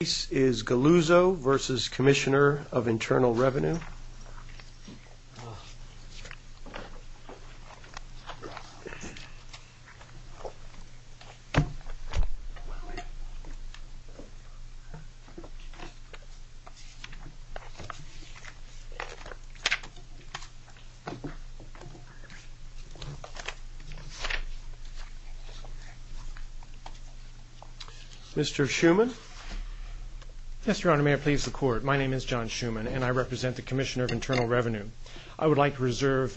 The case is Galuzo v. Commissioner of Internal Revenue Mr. Schuman? Yes, Your Honor, may I please the Court? My name is John Schuman and I represent the Commissioner of Internal Revenue. I would like to reserve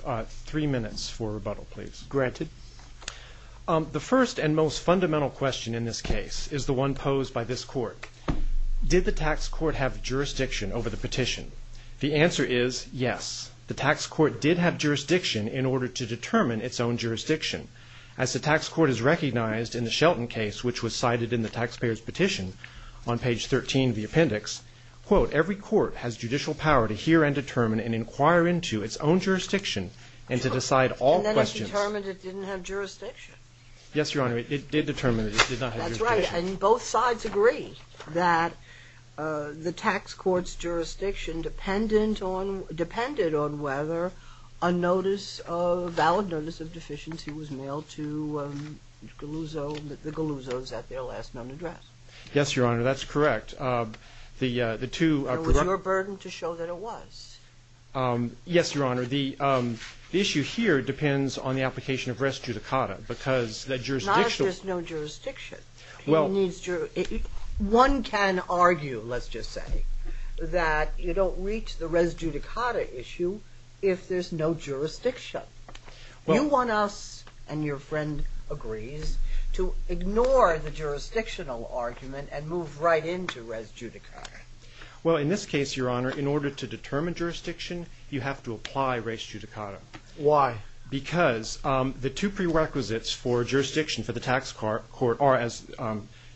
three minutes for rebuttal, please. Granted. The first and most fundamental question in this case is the one posed by this Court. Did the tax court have jurisdiction over the petition? The answer is yes. The tax court did have jurisdiction in order to determine its own jurisdiction. As the tax court has recognized in the Shelton case, which was cited in the taxpayer's petition on page 13 of the appendix, quote, every court has judicial power to hear and determine and inquire into its own jurisdiction and to decide all questions. And then it determined it didn't have jurisdiction. Yes, Your Honor, it did determine that it did not have jurisdiction. That's right, and both sides agree that the tax court's jurisdiction depended on whether a valid notice of deficiency was mailed to the Galuzos at their last known address. Yes, Your Honor, that's correct. It was your burden to show that it was. Yes, Your Honor, the issue here depends on the application of res judicata because the jurisdictional One can argue, let's just say, that you don't reach the res judicata issue if there's no jurisdiction. You want us, and your friend agrees, to ignore the jurisdictional argument and move right into res judicata. Well, in this case, Your Honor, in order to determine jurisdiction, you have to apply res judicata. Why? Because the two prerequisites for jurisdiction for the tax court are, as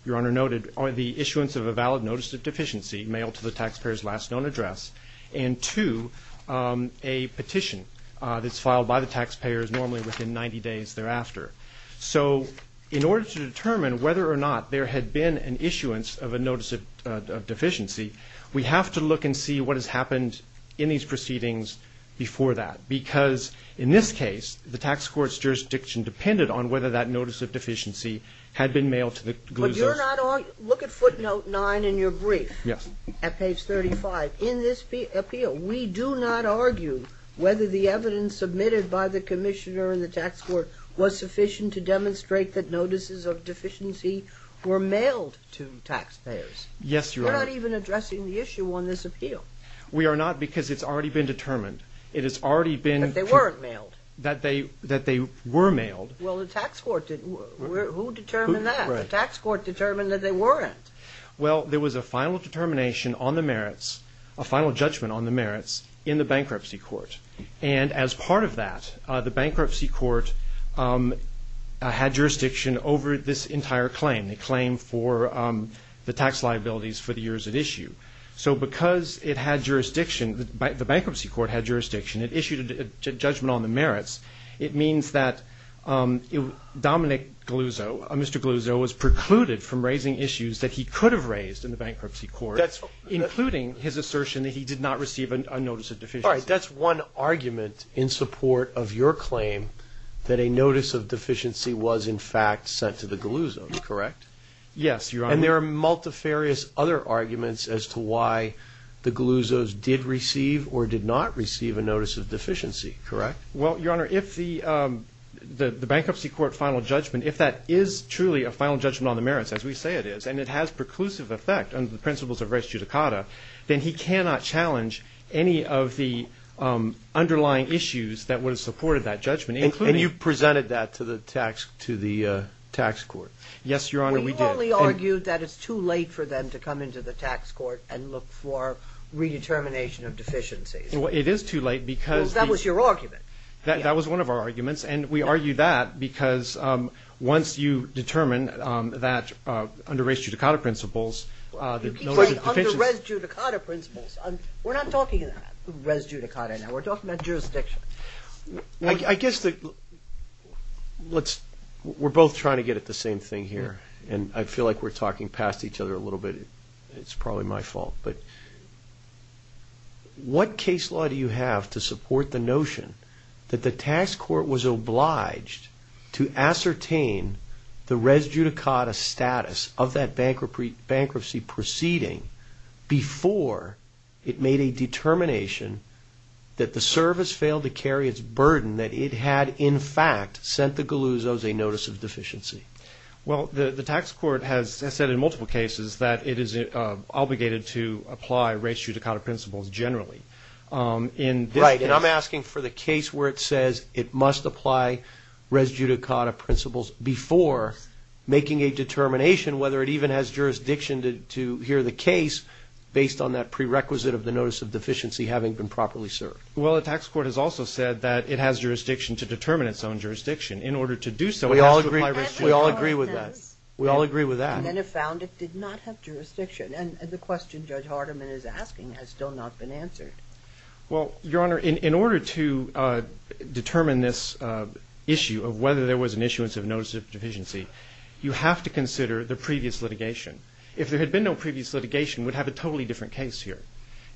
Your Honor noted, are the issuance of a valid notice of deficiency mailed to the taxpayer's last known address and two, a petition that's filed by the taxpayers normally within 90 days thereafter. So in order to determine whether or not there had been an issuance of a notice of deficiency, we have to look and see what has happened in these proceedings before that. Because in this case, the tax court's jurisdiction depended on whether that notice of deficiency had been mailed to the glue's office. Look at footnote 9 in your brief at page 35. In this appeal, we do not argue whether the evidence submitted by the commissioner and the tax court was sufficient to demonstrate that notices of deficiency were mailed to taxpayers. Yes, Your Honor. We're not even addressing the issue on this appeal. We are not because it's already been determined. It has already been. That they weren't mailed. That they were mailed. Well, the tax court didn't. Who determined that? The tax court determined that they weren't. Well, there was a final determination on the merits, a final judgment on the merits, in the bankruptcy court. And as part of that, the bankruptcy court had jurisdiction over this entire claim, the claim for the tax liabilities for the years it issued. So because it had jurisdiction, the bankruptcy court had jurisdiction, it issued a judgment on the merits, it means that Dominic Galluzzo, Mr. Galluzzo, was precluded from raising issues that he could have raised in the bankruptcy court, including his assertion that he did not receive a notice of deficiency. All right. That's one argument in support of your claim that a notice of deficiency was, in fact, sent to the Galluzzo. Correct? Yes, Your Honor. And there are multifarious other arguments as to why the Galluzzo's did receive or did not receive a notice of deficiency. Correct? Well, Your Honor, if the bankruptcy court final judgment, if that is truly a final judgment on the merits, as we say it is, and it has preclusive effect under the principles of res judicata, then he cannot challenge any of the underlying issues that would have supported that judgment. And you presented that to the tax court. Yes, Your Honor, we did. We probably argued that it's too late for them to come into the tax court and look for redetermination of deficiencies. Well, it is too late because the – Because that was your argument. That was one of our arguments. And we argue that because once you determine that under res judicata principles, the notice of deficiency – You keep saying under res judicata principles. We're not talking res judicata now. We're talking about jurisdiction. I guess we're both trying to get at the same thing here, and I feel like we're talking past each other a little bit. It's probably my fault. But what case law do you have to support the notion that the tax court was obliged to ascertain the res judicata status of that bankruptcy proceeding before it made a determination that the service failed to carry its burden, that it had in fact sent the Galuzos a notice of deficiency? Well, the tax court has said in multiple cases that it is obligated to apply res judicata principles generally. Right. And I'm asking for the case where it says it must apply res judicata principles before making a determination whether it even has jurisdiction to hear the case based on that prerequisite of the notice of deficiency having been properly served. Well, the tax court has also said that it has jurisdiction to determine its own jurisdiction. In order to do so, it has to apply res judicata. We all agree with that. We all agree with that. And then it found it did not have jurisdiction. And the question Judge Hardiman is asking has still not been answered. Well, Your Honor, in order to determine this issue of whether there was an issuance of notice of deficiency, you have to consider the previous litigation. If there had been no previous litigation, we'd have a totally different case here.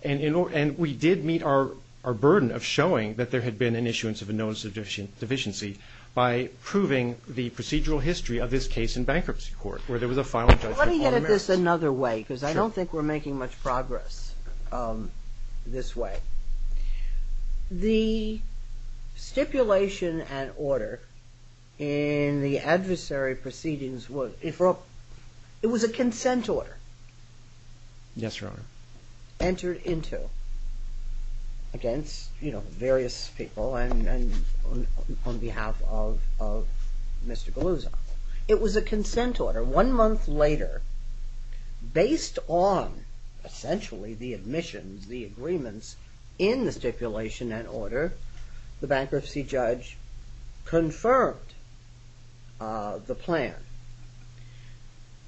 And we did meet our burden of showing that there had been an issuance of a notice of deficiency by proving the procedural history of this case in bankruptcy court where there was a final judgment on merits. Let me put this another way because I don't think we're making much progress this way. The stipulation and order in the adversary proceedings, it was a consent order. Yes, Your Honor. Entered into against, you know, various people and on behalf of Mr. Galuzzo. It was a consent order. One month later, based on essentially the admissions, the agreements in the stipulation and order, the bankruptcy judge confirmed the plan.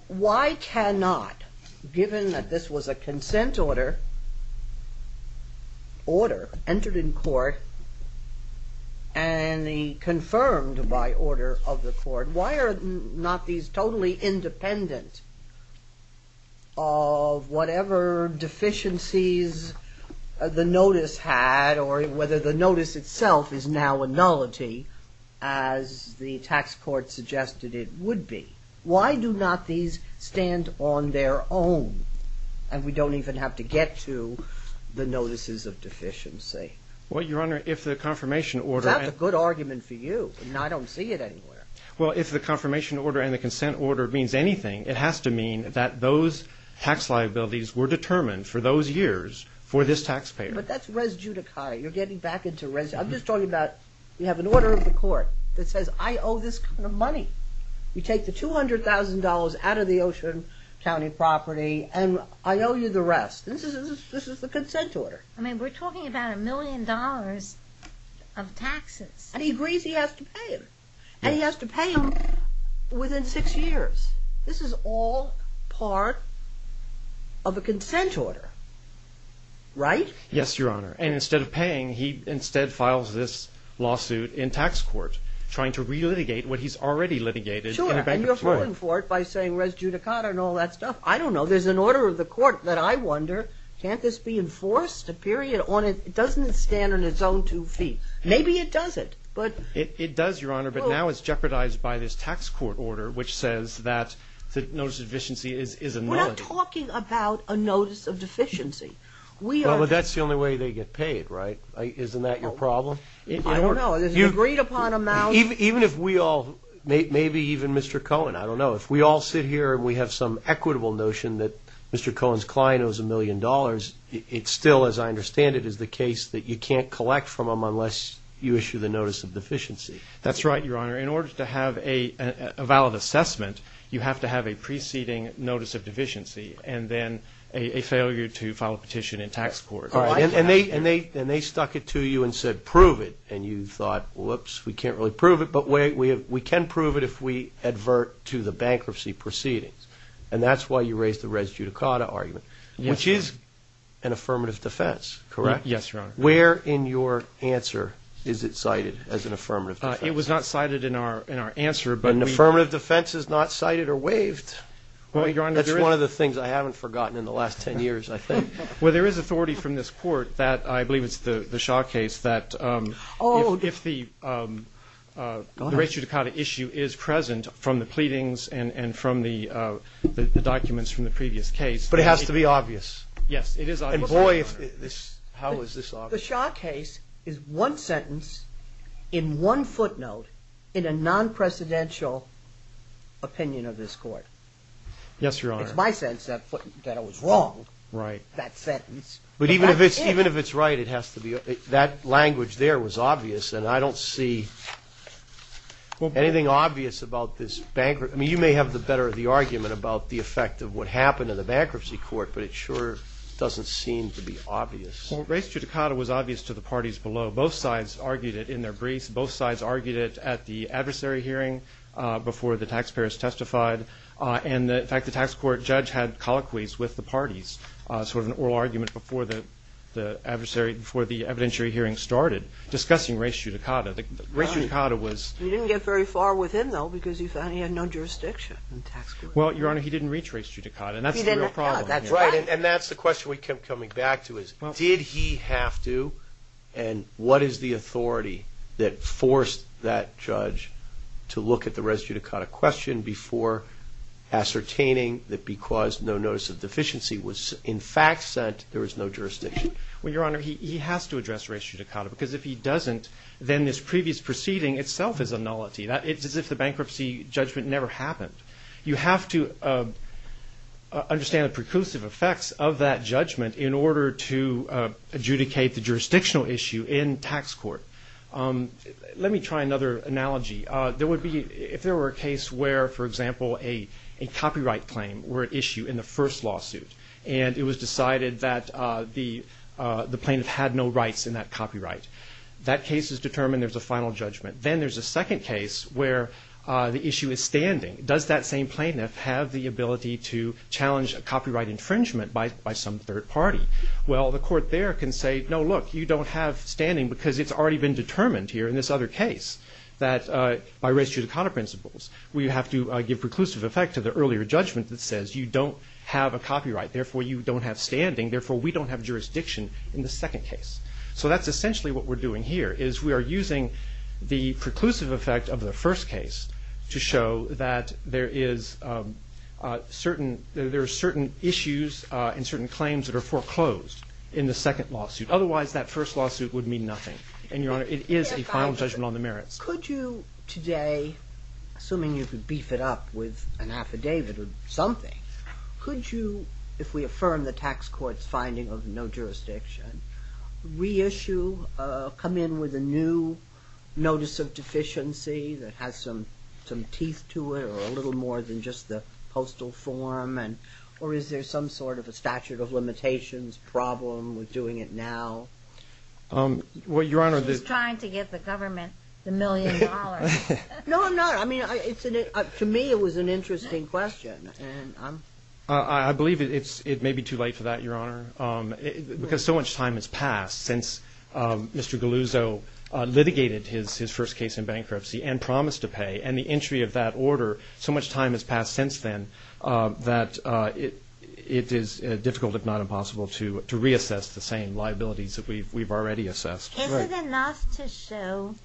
Why cannot, given that this was a consent order, entered in court and confirmed by order of the court, why are not these totally independent of whatever deficiencies the notice had or whether the notice itself is now a nullity as the tax court suggested it would be? Why do not these stand on their own? And we don't even have to get to the notices of deficiency. Well, Your Honor, if the confirmation order... That's a good argument for you and I don't see it anywhere. Well, if the confirmation order and the consent order means anything, it has to mean that those tax liabilities were determined for those years for this taxpayer. But that's res judicata. You're getting back into res... I'm just talking about you have an order of the court that says, I owe this kind of money. You take the $200,000 out of the Ocean County property and I owe you the rest. This is the consent order. I mean, we're talking about a million dollars of taxes. And he agrees he has to pay them. And he has to pay them within six years. This is all part of a consent order, right? Yes, Your Honor. And instead of paying, he instead files this lawsuit in tax court trying to relitigate what he's already litigated. Sure, and you're falling for it by saying res judicata and all that stuff. I don't know. There's an order of the court that I wonder, can't this be enforced? It doesn't stand on its own two feet. Maybe it doesn't. It does, Your Honor, but now it's jeopardized by this tax court order which says that the notice of deficiency is a nullity. We're not talking about a notice of deficiency. Well, but that's the only way they get paid, right? Isn't that your problem? I don't know. Is it agreed upon amount? Even if we all, maybe even Mr. Cohen, I don't know, if we all sit here and we have some equitable notion that Mr. Cohen's client owes a million dollars, it still, as I understand it, is the case that you can't collect from him unless you issue the notice of deficiency. That's right, Your Honor. In order to have a valid assessment, you have to have a preceding notice of deficiency and then a failure to file a petition in tax court. And they stuck it to you and said, prove it. And you thought, whoops, we can't really prove it, but we can prove it if we advert to the bankruptcy proceedings. And that's why you raised the res judicata argument, which is an affirmative defense, correct? Yes, Your Honor. Where in your answer is it cited as an affirmative defense? It was not cited in our answer. An affirmative defense is not cited or waived. That's one of the things I haven't forgotten in the last 10 years, I think. Well, there is authority from this court that I believe it's the Shaw case that if the res judicata issue is present from the pleadings and from the documents from the previous case. But it has to be obvious. Yes, it is obvious. And, boy, how is this obvious? The Shaw case is one sentence in one footnote in a non-presidential opinion of this court. Yes, Your Honor. It's my sense that it was wrong, that sentence. But even if it's right, that language there was obvious, and I don't see anything obvious about this bankruptcy. I mean, you may have the better of the argument about the effect of what happened in the bankruptcy court, but it sure doesn't seem to be obvious. Well, res judicata was obvious to the parties below. Both sides argued it in their briefs. Both sides argued it at the adversary hearing before the taxpayers testified. And, in fact, the tax court judge had colloquies with the parties, sort of an oral argument before the evidentiary hearing started, discussing res judicata. Res judicata was – You didn't get very far with him, though, because you found he had no jurisdiction in tax court. Well, Your Honor, he didn't reach res judicata, and that's the real problem. That's right, and that's the question we kept coming back to is did he have to, and what is the authority that forced that judge to look at the res judicata question before ascertaining that because no notice of deficiency was, in fact, sent, there was no jurisdiction? Well, Your Honor, he has to address res judicata, because if he doesn't, then this previous proceeding itself is a nullity. It's as if the bankruptcy judgment never happened. You have to understand the preclusive effects of that judgment in order to adjudicate the jurisdictional issue in tax court. Let me try another analogy. There would be – if there were a case where, for example, a copyright claim were at issue in the first lawsuit, and it was decided that the plaintiff had no rights in that copyright, that case is determined, there's a final judgment. Then there's a second case where the issue is standing. Does that same plaintiff have the ability to challenge a copyright infringement by some third party? Well, the court there can say, no, look, you don't have standing because it's already been determined here in this other case that by res judicata principles we have to give preclusive effect to the earlier judgment that says you don't have a copyright, therefore you don't have standing, therefore we don't have jurisdiction in the second case. So that's essentially what we're doing here, is we are using the preclusive effect of the first case to show that there is certain issues and certain claims that are foreclosed in the second lawsuit. Otherwise that first lawsuit would mean nothing. And, Your Honor, it is a final judgment on the merits. Could you today, assuming you could beef it up with an affidavit or something, could you, if we affirm the tax court's finding of no jurisdiction, reissue, come in with a new notice of deficiency that has some teeth to it or a little more than just the postal form? Or is there some sort of a statute of limitations problem with doing it now? Well, Your Honor, the... She's trying to get the government the million dollars. No, I'm not. I mean, to me it was an interesting question. I believe it may be too late for that, Your Honor, because so much time has passed since Mr. Galuzzo litigated his first case in bankruptcy and promised to pay, and the entry of that order, so much time has passed since then that it is difficult, if not impossible, to reassess the same liabilities that we've already assessed. Isn't it enough to show,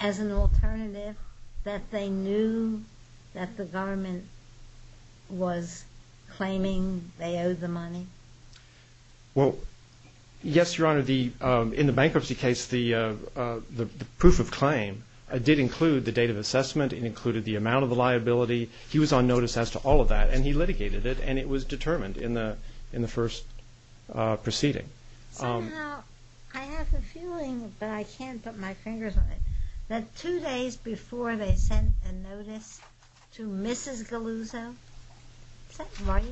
as an alternative, that they knew that the government was claiming they owed the money? Well, yes, Your Honor. In the bankruptcy case, the proof of claim did include the date of assessment. It included the amount of the liability. He was on notice as to all of that, and he litigated it, and it was determined in the first proceeding. Somehow I have a feeling, but I can't put my fingers on it, that two days before they sent a notice to Mrs. Galuzzo, is that right?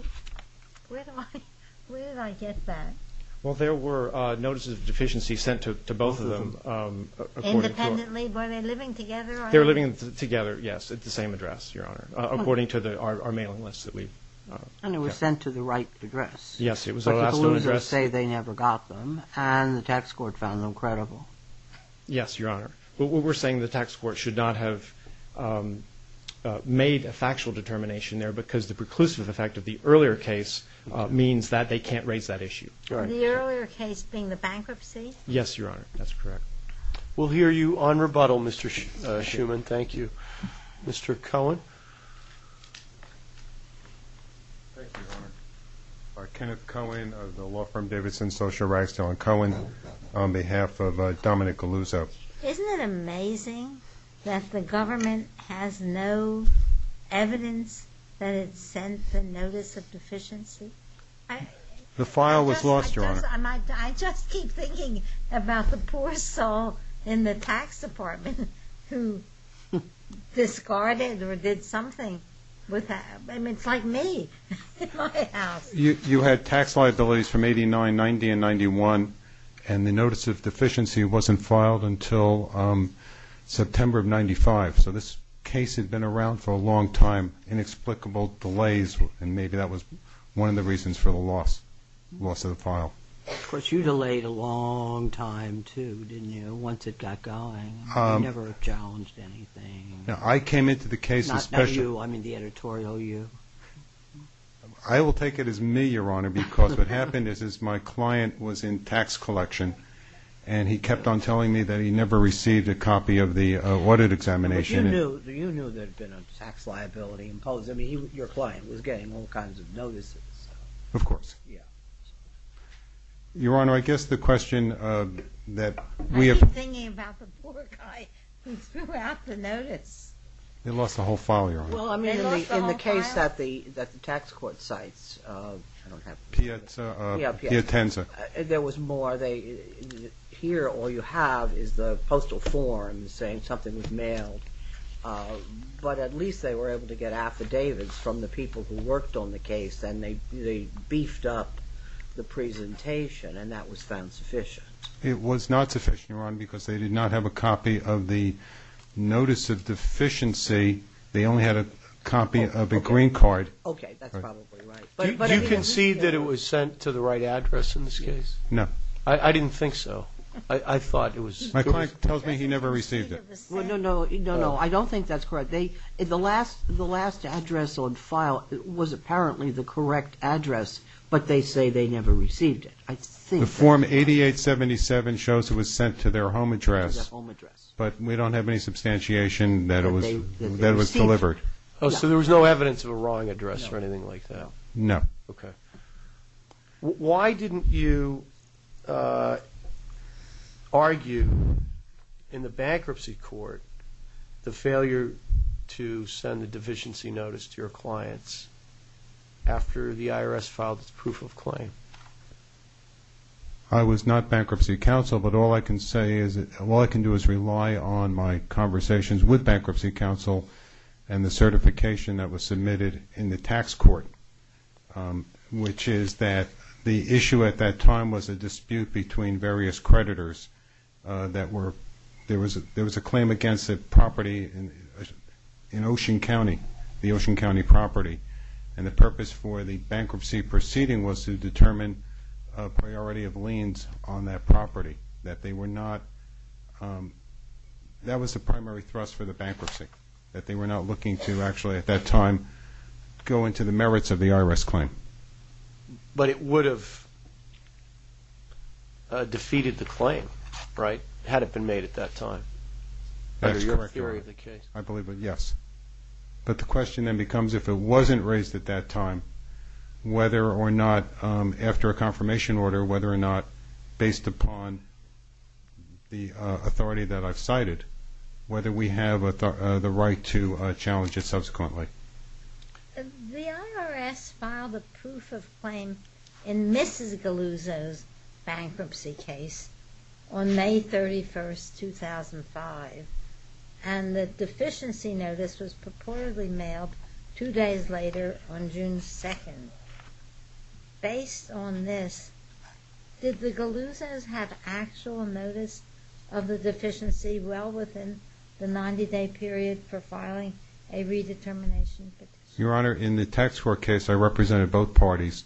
Where do I get that? Well, there were notices of deficiency sent to both of them. Independently? Were they living together? They were living together, yes, at the same address, Your Honor, according to our mailing list that we... And it was sent to the right address. Yes, it was our last known address. But the Galuzzos say they never got them, and the tax court found them credible. Yes, Your Honor. What we're saying, the tax court should not have made a factual determination there because the preclusive effect of the earlier case means that they can't raise that issue. The earlier case being the bankruptcy? Yes, Your Honor, that's correct. We'll hear you on rebuttal, Mr. Schuman. Thank you. Mr. Cohen. Thank you, Your Honor. Kenneth Cohen of the law firm Davidson Social Rights. John Cohen on behalf of Dominic Galuzzo. Isn't it amazing that the government has no evidence that it sent the notice of deficiency? The file was lost, Your Honor. I just keep thinking about the poor soul in the tax department who discarded or did something with that. I mean, it's like me in my house. You had tax liabilities from 89, 90, and 91, and the notice of deficiency wasn't filed until September of 95. So this case had been around for a long time, inexplicable delays, and maybe that was one of the reasons for the loss of the file. Of course, you delayed a long time too, didn't you, once it got going? You never challenged anything. I came into the case especially. Not you. I mean, the editorial you. I will take it as me, Your Honor, because what happened is my client was in tax collection, and he kept on telling me that he never received a copy of the audit examination. But you knew there had been a tax liability imposed. I mean, your client was getting all kinds of notices. Of course. Yeah. Your Honor, I guess the question that we have. I keep thinking about the poor guy who threw out the notice. They lost the whole file, Your Honor. They lost the whole file? Well, I mean, in the case that the tax court cites, I don't have it. Pietza. Yeah. Pietenza. There was more. Here all you have is the postal form saying something was mailed. But at least they were able to get affidavits from the people who worked on the case, and they beefed up the presentation, and that was found sufficient. It was not sufficient, Your Honor, because they did not have a copy of the notice of deficiency. They only had a copy of a green card. Okay. That's probably right. Do you concede that it was sent to the right address in this case? No. I didn't think so. I thought it was. My client tells me he never received it. No, no. I don't think that's correct. The last address on file was apparently the correct address, but they say they never received it. The form 8877 shows it was sent to their home address, but we don't have any substantiation that it was delivered. So there was no evidence of a wrong address or anything like that? No. Okay. Why didn't you argue in the bankruptcy court the failure to send a deficiency notice to your clients after the IRS filed its proof of claim? I was not bankruptcy counsel, but all I can do is rely on my conversations with bankruptcy counsel and the certification that was submitted in the tax court, which is that the issue at that time was a dispute between various creditors. There was a claim against a property in Ocean County, the Ocean County property, and the purpose for the bankruptcy proceeding was to determine a priority of liens on that property. That was the primary thrust for the bankruptcy, that they were not looking to actually at that time go into the merits of the IRS claim. But it would have defeated the claim, right, had it been made at that time? That's correct. Under your theory of the case. I believe it, yes. But the question then becomes if it wasn't raised at that time, whether or not after a confirmation order, whether or not based upon the authority that I've cited, whether we have the right to challenge it subsequently. The IRS filed a proof of claim in Mrs. Galuzzo's bankruptcy case on May 31st, 2005, and the deficiency notice was purportedly mailed two days later on June 2nd. Based on this, did the Galuzzos have actual notice of the deficiency well within the 90-day period for filing a redetermination petition? Your Honor, in the tax court case, I represented both parties,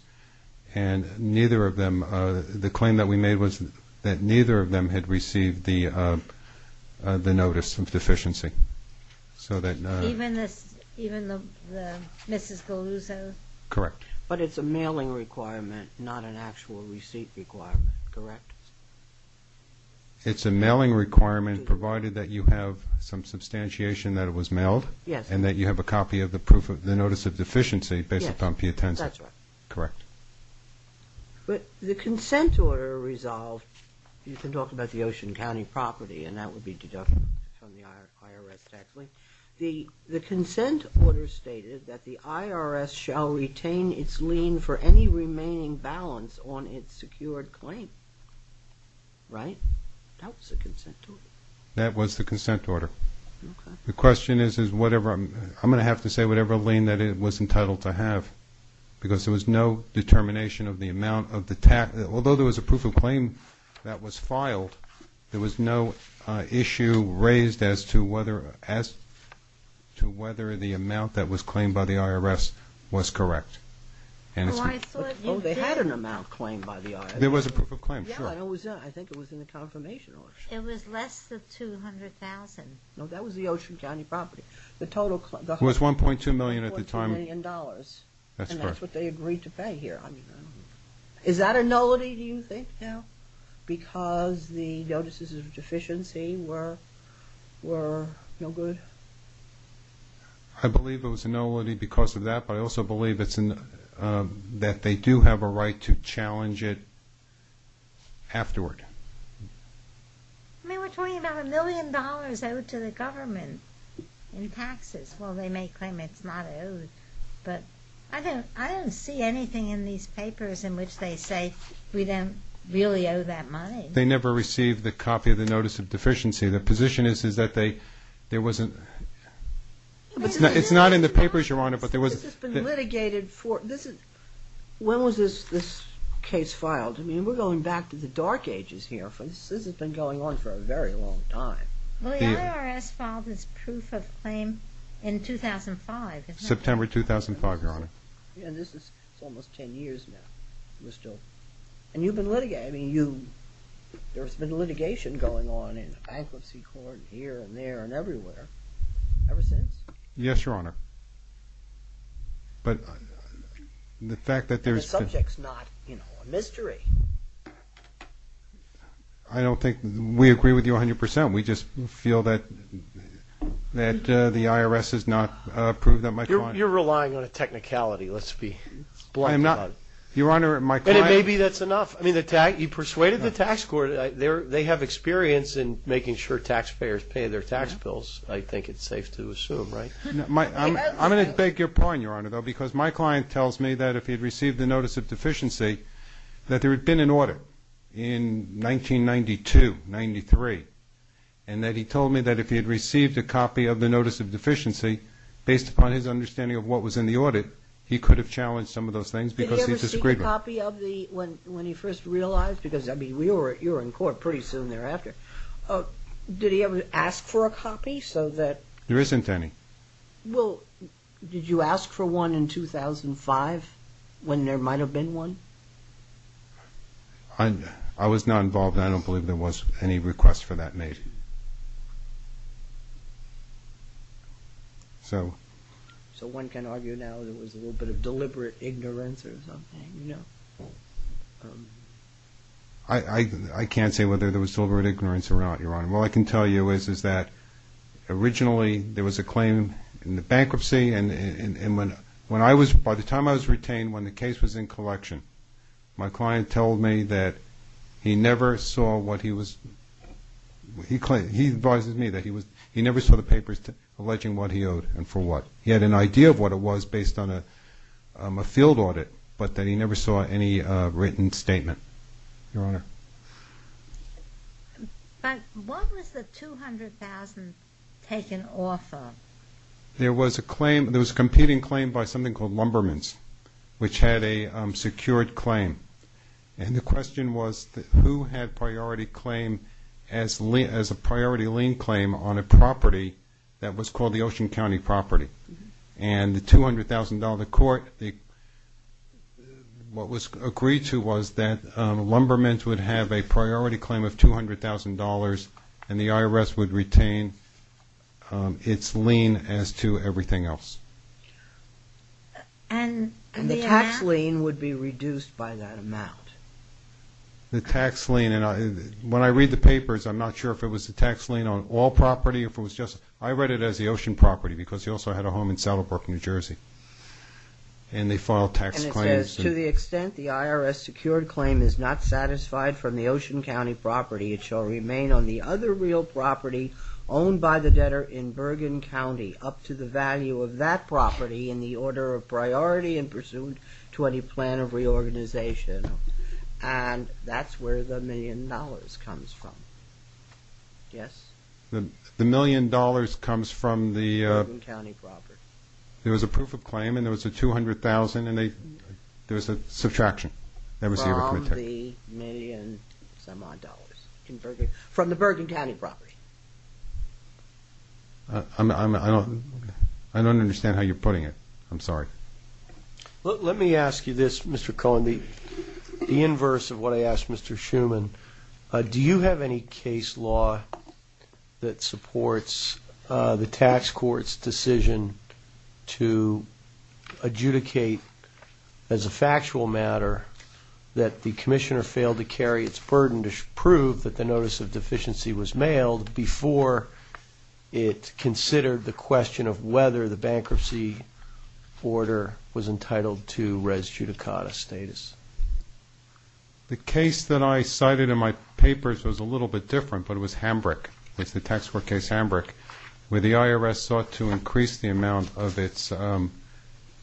and neither of them, the claim that we made was that neither of them had received the notice of deficiency. Even the Mrs. Galuzzo? Correct. But it's a mailing requirement, not an actual receipt requirement, correct? It's a mailing requirement, provided that you have some substantiation that it was mailed. Yes. And that you have a copy of the proof of the notice of deficiency based upon putensive. Yes, that's right. Correct. But the consent order resolved, you can talk about the Ocean County property, and that would be deducted from the IRS tax claim. The consent order stated that the IRS shall retain its lien for any remaining balance on its secured claim, right? That was the consent order. That was the consent order. The question is, I'm going to have to say whatever lien that it was entitled to have, because there was no determination of the amount of the tax. Although there was a proof of claim that was filed, there was no issue raised as to whether the amount that was claimed by the IRS was correct. Oh, I thought you did. Oh, they had an amount claimed by the IRS. There was a proof of claim, sure. Yeah, I think it was in the confirmation order. It was less than $200,000. No, that was the Ocean County property. It was $1.2 million at the time. And that's what they agreed to pay here. Is that a nullity, do you think? No. Because the notices of deficiency were no good? I believe it was a nullity because of that, but I also believe that they do have a right to challenge it afterward. I mean, we're talking about a million dollars owed to the government in taxes. Well, they may claim it's not owed, but I don't see anything in these papers in which they say we don't really owe that money. They never received the copy of the notice of deficiency. The position is that there wasn't – it's not in the papers, Your Honor, but there was – This has been litigated for – when was this case filed? I mean, we're going back to the dark ages here. This has been going on for a very long time. Well, the IRS filed this proof of claim in 2005, isn't it? September 2005, Your Honor. Yeah, this is almost 10 years now. And you've been litigating – I mean, you – there's been litigation going on in the bankruptcy court here and there and everywhere ever since? Yes, Your Honor. But the fact that there's been – The subject's not a mystery. I don't think – we agree with you 100%. We just feel that the IRS has not approved that much money. You're relying on a technicality, let's be blunt about it. Your Honor, my client – And it may be that's enough. I mean, you persuaded the tax court. They have experience in making sure taxpayers pay their tax bills, I think it's safe to assume, right? I'm going to beg your point, Your Honor, though, because my client tells me that if he had received the notice of deficiency, that there had been an audit in 1992, 1993, and that he told me that if he had received a copy of the notice of deficiency, based upon his understanding of what was in the audit, he could have challenged some of those things because he disagreed with them. Did he ever see a copy of the – when he first realized? Because, I mean, you were in court pretty soon thereafter. Did he ever ask for a copy so that – There isn't any. Well, did you ask for one in 2005 when there might have been one? I was not involved, and I don't believe there was any request for that made. So one can argue now there was a little bit of deliberate ignorance or something, you know? I can't say whether there was deliberate ignorance or not, Your Honor. All I can tell you is that originally there was a claim in the bankruptcy, and when I was – by the time I was retained, when the case was in collection, my client told me that he never saw what he was – he advised me that he never saw the papers alleging what he owed and for what. He had an idea of what it was based on a field audit, but that he never saw any written statement, Your Honor. But what was the $200,000 taken off of? There was a claim – there was a competing claim by something called Lumbermans, which had a secured claim, and the question was who had priority claim as a priority lien claim on a property that was called the Ocean County property. And the $200,000 court, what was agreed to was that Lumbermans would have a priority claim of $200,000 and the IRS would retain its lien as to everything else. And the amount? And the tax lien would be reduced by that amount. The tax lien, and when I read the papers, I'm not sure if it was the tax lien on all property or if it was just – I read it as the Ocean property because he also had a home in Saddlebrook, New Jersey, and they filed tax claims. And it says, to the extent the IRS-secured claim is not satisfied from the Ocean County property, it shall remain on the other real property owned by the debtor in Bergen County up to the value of that property in the order of priority and pursuant to any plan of reorganization. And that's where the million dollars comes from. Yes? The million dollars comes from the – Bergen County property. There was a proof of claim and there was a $200,000 and there was a subtraction. From the million-some-odd dollars in Bergen – from the Bergen County property. I don't understand how you're putting it. I'm sorry. Let me ask you this, Mr. Cohen. The inverse of what I asked Mr. Schuman, do you have any case law that supports the tax court's decision to adjudicate as a factual matter that the commissioner failed to carry its burden to prove that the notice of deficiency was mailed before it considered the question of whether the bankruptcy order was entitled to res judicata status? The case that I cited in my papers was a little bit different, but it was Hambrick. It's the tax court case Hambrick, where the IRS sought to increase the amount of its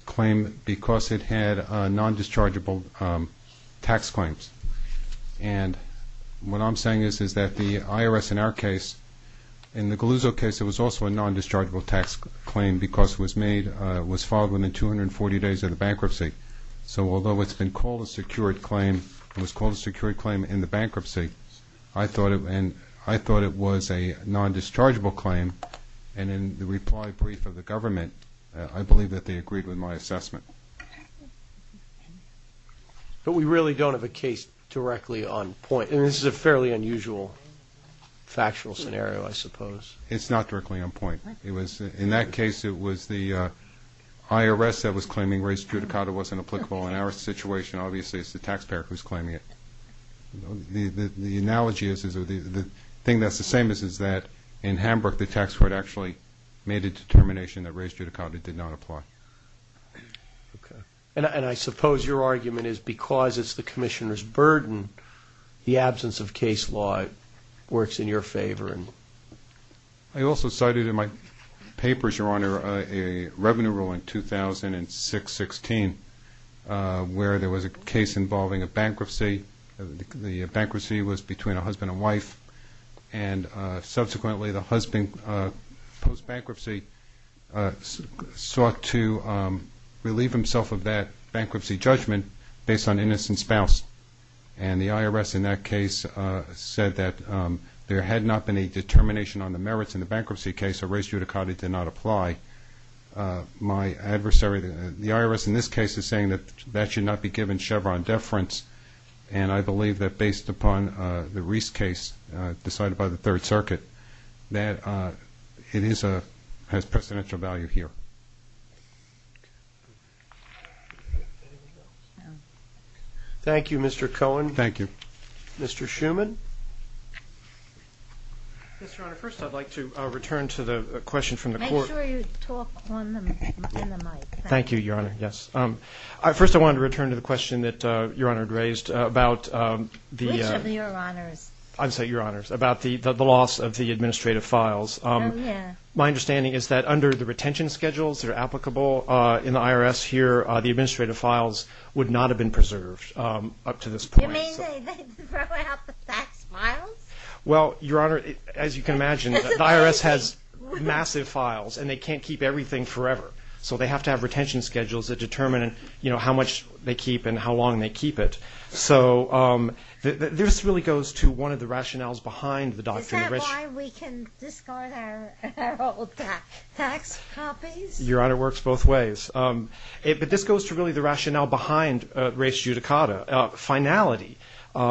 claim because it had non-dischargeable tax claims. And what I'm saying is that the IRS in our case, in the Galuzzo case, it was also a non-dischargeable tax claim because it was made – it was filed within 240 days of the bankruptcy. So although it's been called a secured claim, it was called a secured claim in the bankruptcy, and I thought it was a non-dischargeable claim. And in the reply brief of the government, I believe that they agreed with my assessment. But we really don't have a case directly on point. I mean, this is a fairly unusual factual scenario, I suppose. It's not directly on point. In that case, it was the IRS that was claiming res judicata wasn't applicable. In our situation, obviously, it's the taxpayer who's claiming it. The analogy is – the thing that's the same is that in Hambrick, the tax court actually made a determination that res judicata did not apply. And I suppose your argument is because it's the commissioner's burden, the absence of case law works in your favor. I also cited in my papers, Your Honor, a revenue rule in 2006-16 where there was a case involving a bankruptcy. The bankruptcy was between a husband and wife, and subsequently the husband, post-bankruptcy, sought to relieve himself of that bankruptcy judgment based on innocent spouse. And the IRS in that case said that there had not been a determination on the merits in the bankruptcy case, so res judicata did not apply. My adversary, the IRS in this case, is saying that that should not be given Chevron deference. And I believe that based upon the Reese case decided by the Third Circuit, that it has presidential value here. Thank you, Mr. Cohen. Thank you. Mr. Schuman. Mr. Honor, first I'd like to return to the question from the court. Make sure you talk on the mic. Thank you, Your Honor. Yes. First I wanted to return to the question that Your Honor had raised about the – Which of Your Honors? I'm sorry, Your Honors, about the loss of the administrative files. Oh, yeah. My understanding is that under the retention schedules, they're applicable in the IRS here. The administrative files would not have been preserved up to this point. You mean they throw out the tax files? Well, Your Honor, as you can imagine, the IRS has massive files, and they can't keep everything forever. So they have to have retention schedules that determine, you know, how much they keep and how long they keep it. So this really goes to one of the rationales behind the Doctrine of Riches. Is that why we can discard our old tax copies? Your Honor, it works both ways. But this goes to really the rationale behind res judicata. Finality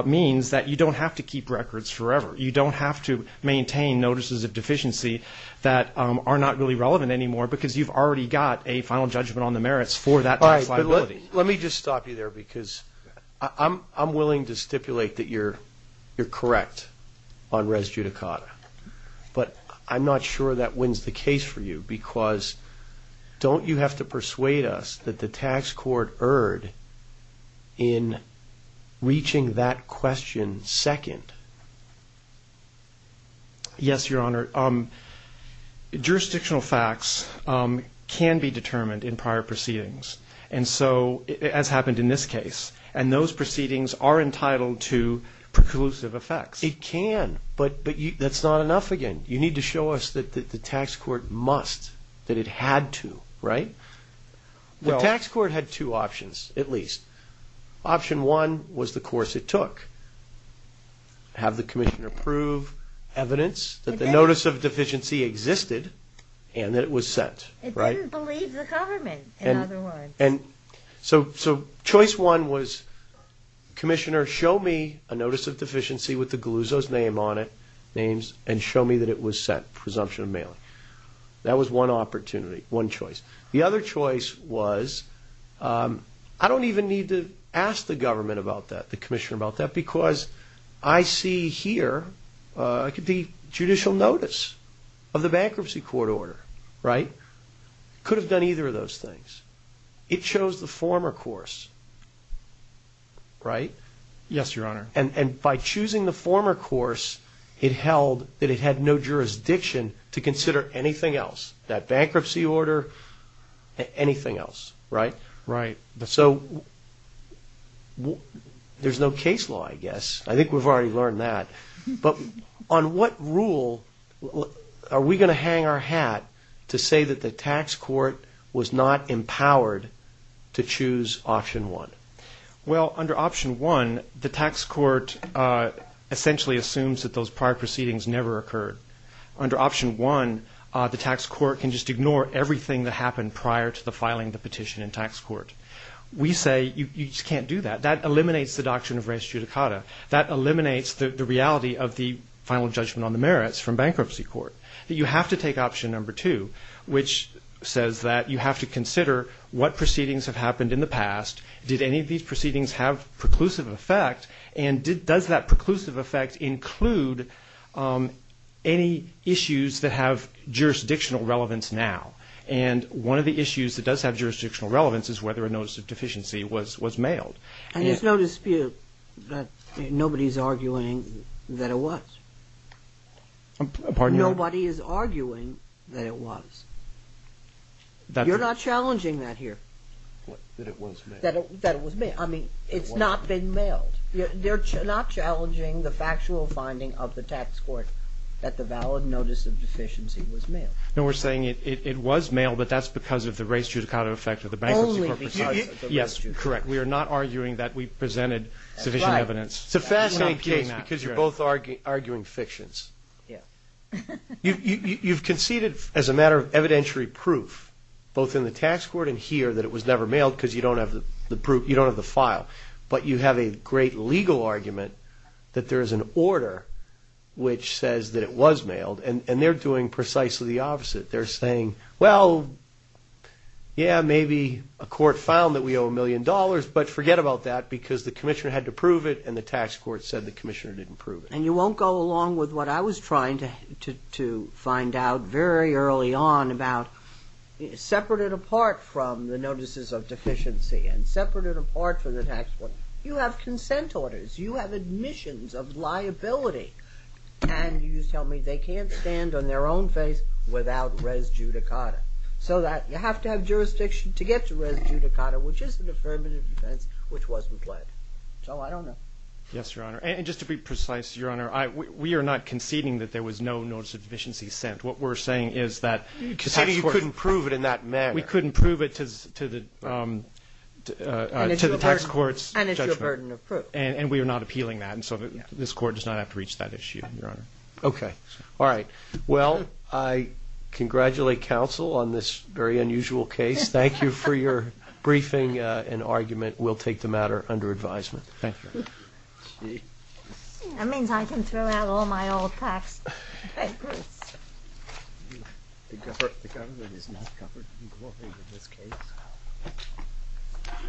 means that you don't have to keep records forever. You don't have to maintain notices of deficiency that are not really relevant anymore because you've already got a final judgment on the merits for that tax liability. Let me just stop you there because I'm willing to stipulate that you're correct on res judicata. But I'm not sure that wins the case for you because don't you have to persuade us that the tax court erred in reaching that question second? Yes, Your Honor. Jurisdictional facts can be determined in prior proceedings, as happened in this case. And those proceedings are entitled to preclusive effects. It can, but that's not enough again. You need to show us that the tax court must, that it had to, right? The tax court had two options, at least. Option one was the course it took. Have the commissioner prove evidence that the notice of deficiency existed and that it was sent. It didn't believe the government, in other words. And so choice one was commissioner show me a notice of deficiency with the Galuzzo's name on it, and show me that it was sent, presumption of mailing. That was one opportunity, one choice. The other choice was I don't even need to ask the government about that, the commissioner about that, because I see here it could be judicial notice of the bankruptcy court order, right? It could have done either of those things. It chose the former course, right? Yes, Your Honor. And by choosing the former course, it held that it had no jurisdiction to consider anything else, that bankruptcy order, anything else, right? Right. So there's no case law, I guess. I think we've already learned that. But on what rule are we going to hang our hat to say that the tax court was not empowered to choose option one? Well, under option one, the tax court essentially assumes that those prior proceedings never occurred. Under option one, the tax court can just ignore everything that happened prior to the filing of the petition in tax court. We say you just can't do that. That eliminates the doctrine of res judicata. That eliminates the reality of the final judgment on the merits from bankruptcy court. You have to take option number two, which says that you have to consider what proceedings have happened in the past, did any of these proceedings have preclusive effect, and does that preclusive effect include any issues that have jurisdictional relevance now? And one of the issues that does have jurisdictional relevance is whether a notice of deficiency was mailed. And there's no dispute that nobody's arguing that it was. Nobody is arguing that it was. You're not challenging that here. That it was mailed. That it was mailed. I mean, it's not been mailed. They're not challenging the factual finding of the tax court that the valid notice of deficiency was mailed. No, we're saying it was mailed, but that's because of the res judicata effect of the bankruptcy court proceeding. Only because of the res judicata. Yes, correct. We are not arguing that we presented sufficient evidence. It's a fascinating case because you're both arguing fictions. You've conceded as a matter of evidentiary proof, both in the tax court and here, that it was never mailed because you don't have the file. But you have a great legal argument that there is an order which says that it was mailed, and they're doing precisely the opposite. They're saying, well, yeah, maybe a court found that we owe a million dollars, but forget about that because the commissioner had to prove it, and the tax court said the commissioner didn't prove it. And you won't go along with what I was trying to find out very early on about, separate it apart from the notices of deficiency and separate it apart from the tax court. You have consent orders. You have admissions of liability. And you tell me they can't stand on their own face without res judicata, so that you have to have jurisdiction to get to res judicata, which is an affirmative defense which wasn't pledged. So I don't know. Yes, Your Honor. And just to be precise, Your Honor, we are not conceding that there was no notice of deficiency sent. What we're saying is that the tax court We're conceding you couldn't prove it in that manner. We couldn't prove it to the tax court's judgment. And it's your burden of proof. And we are not appealing that. And so this court does not have to reach that issue, Your Honor. Okay. All right. Well, I congratulate counsel on this very unusual case. Thank you for your briefing and argument. We'll take the matter under advisement. Thank you. That means I can throw out all my old tax documents. The government is not covered in this case.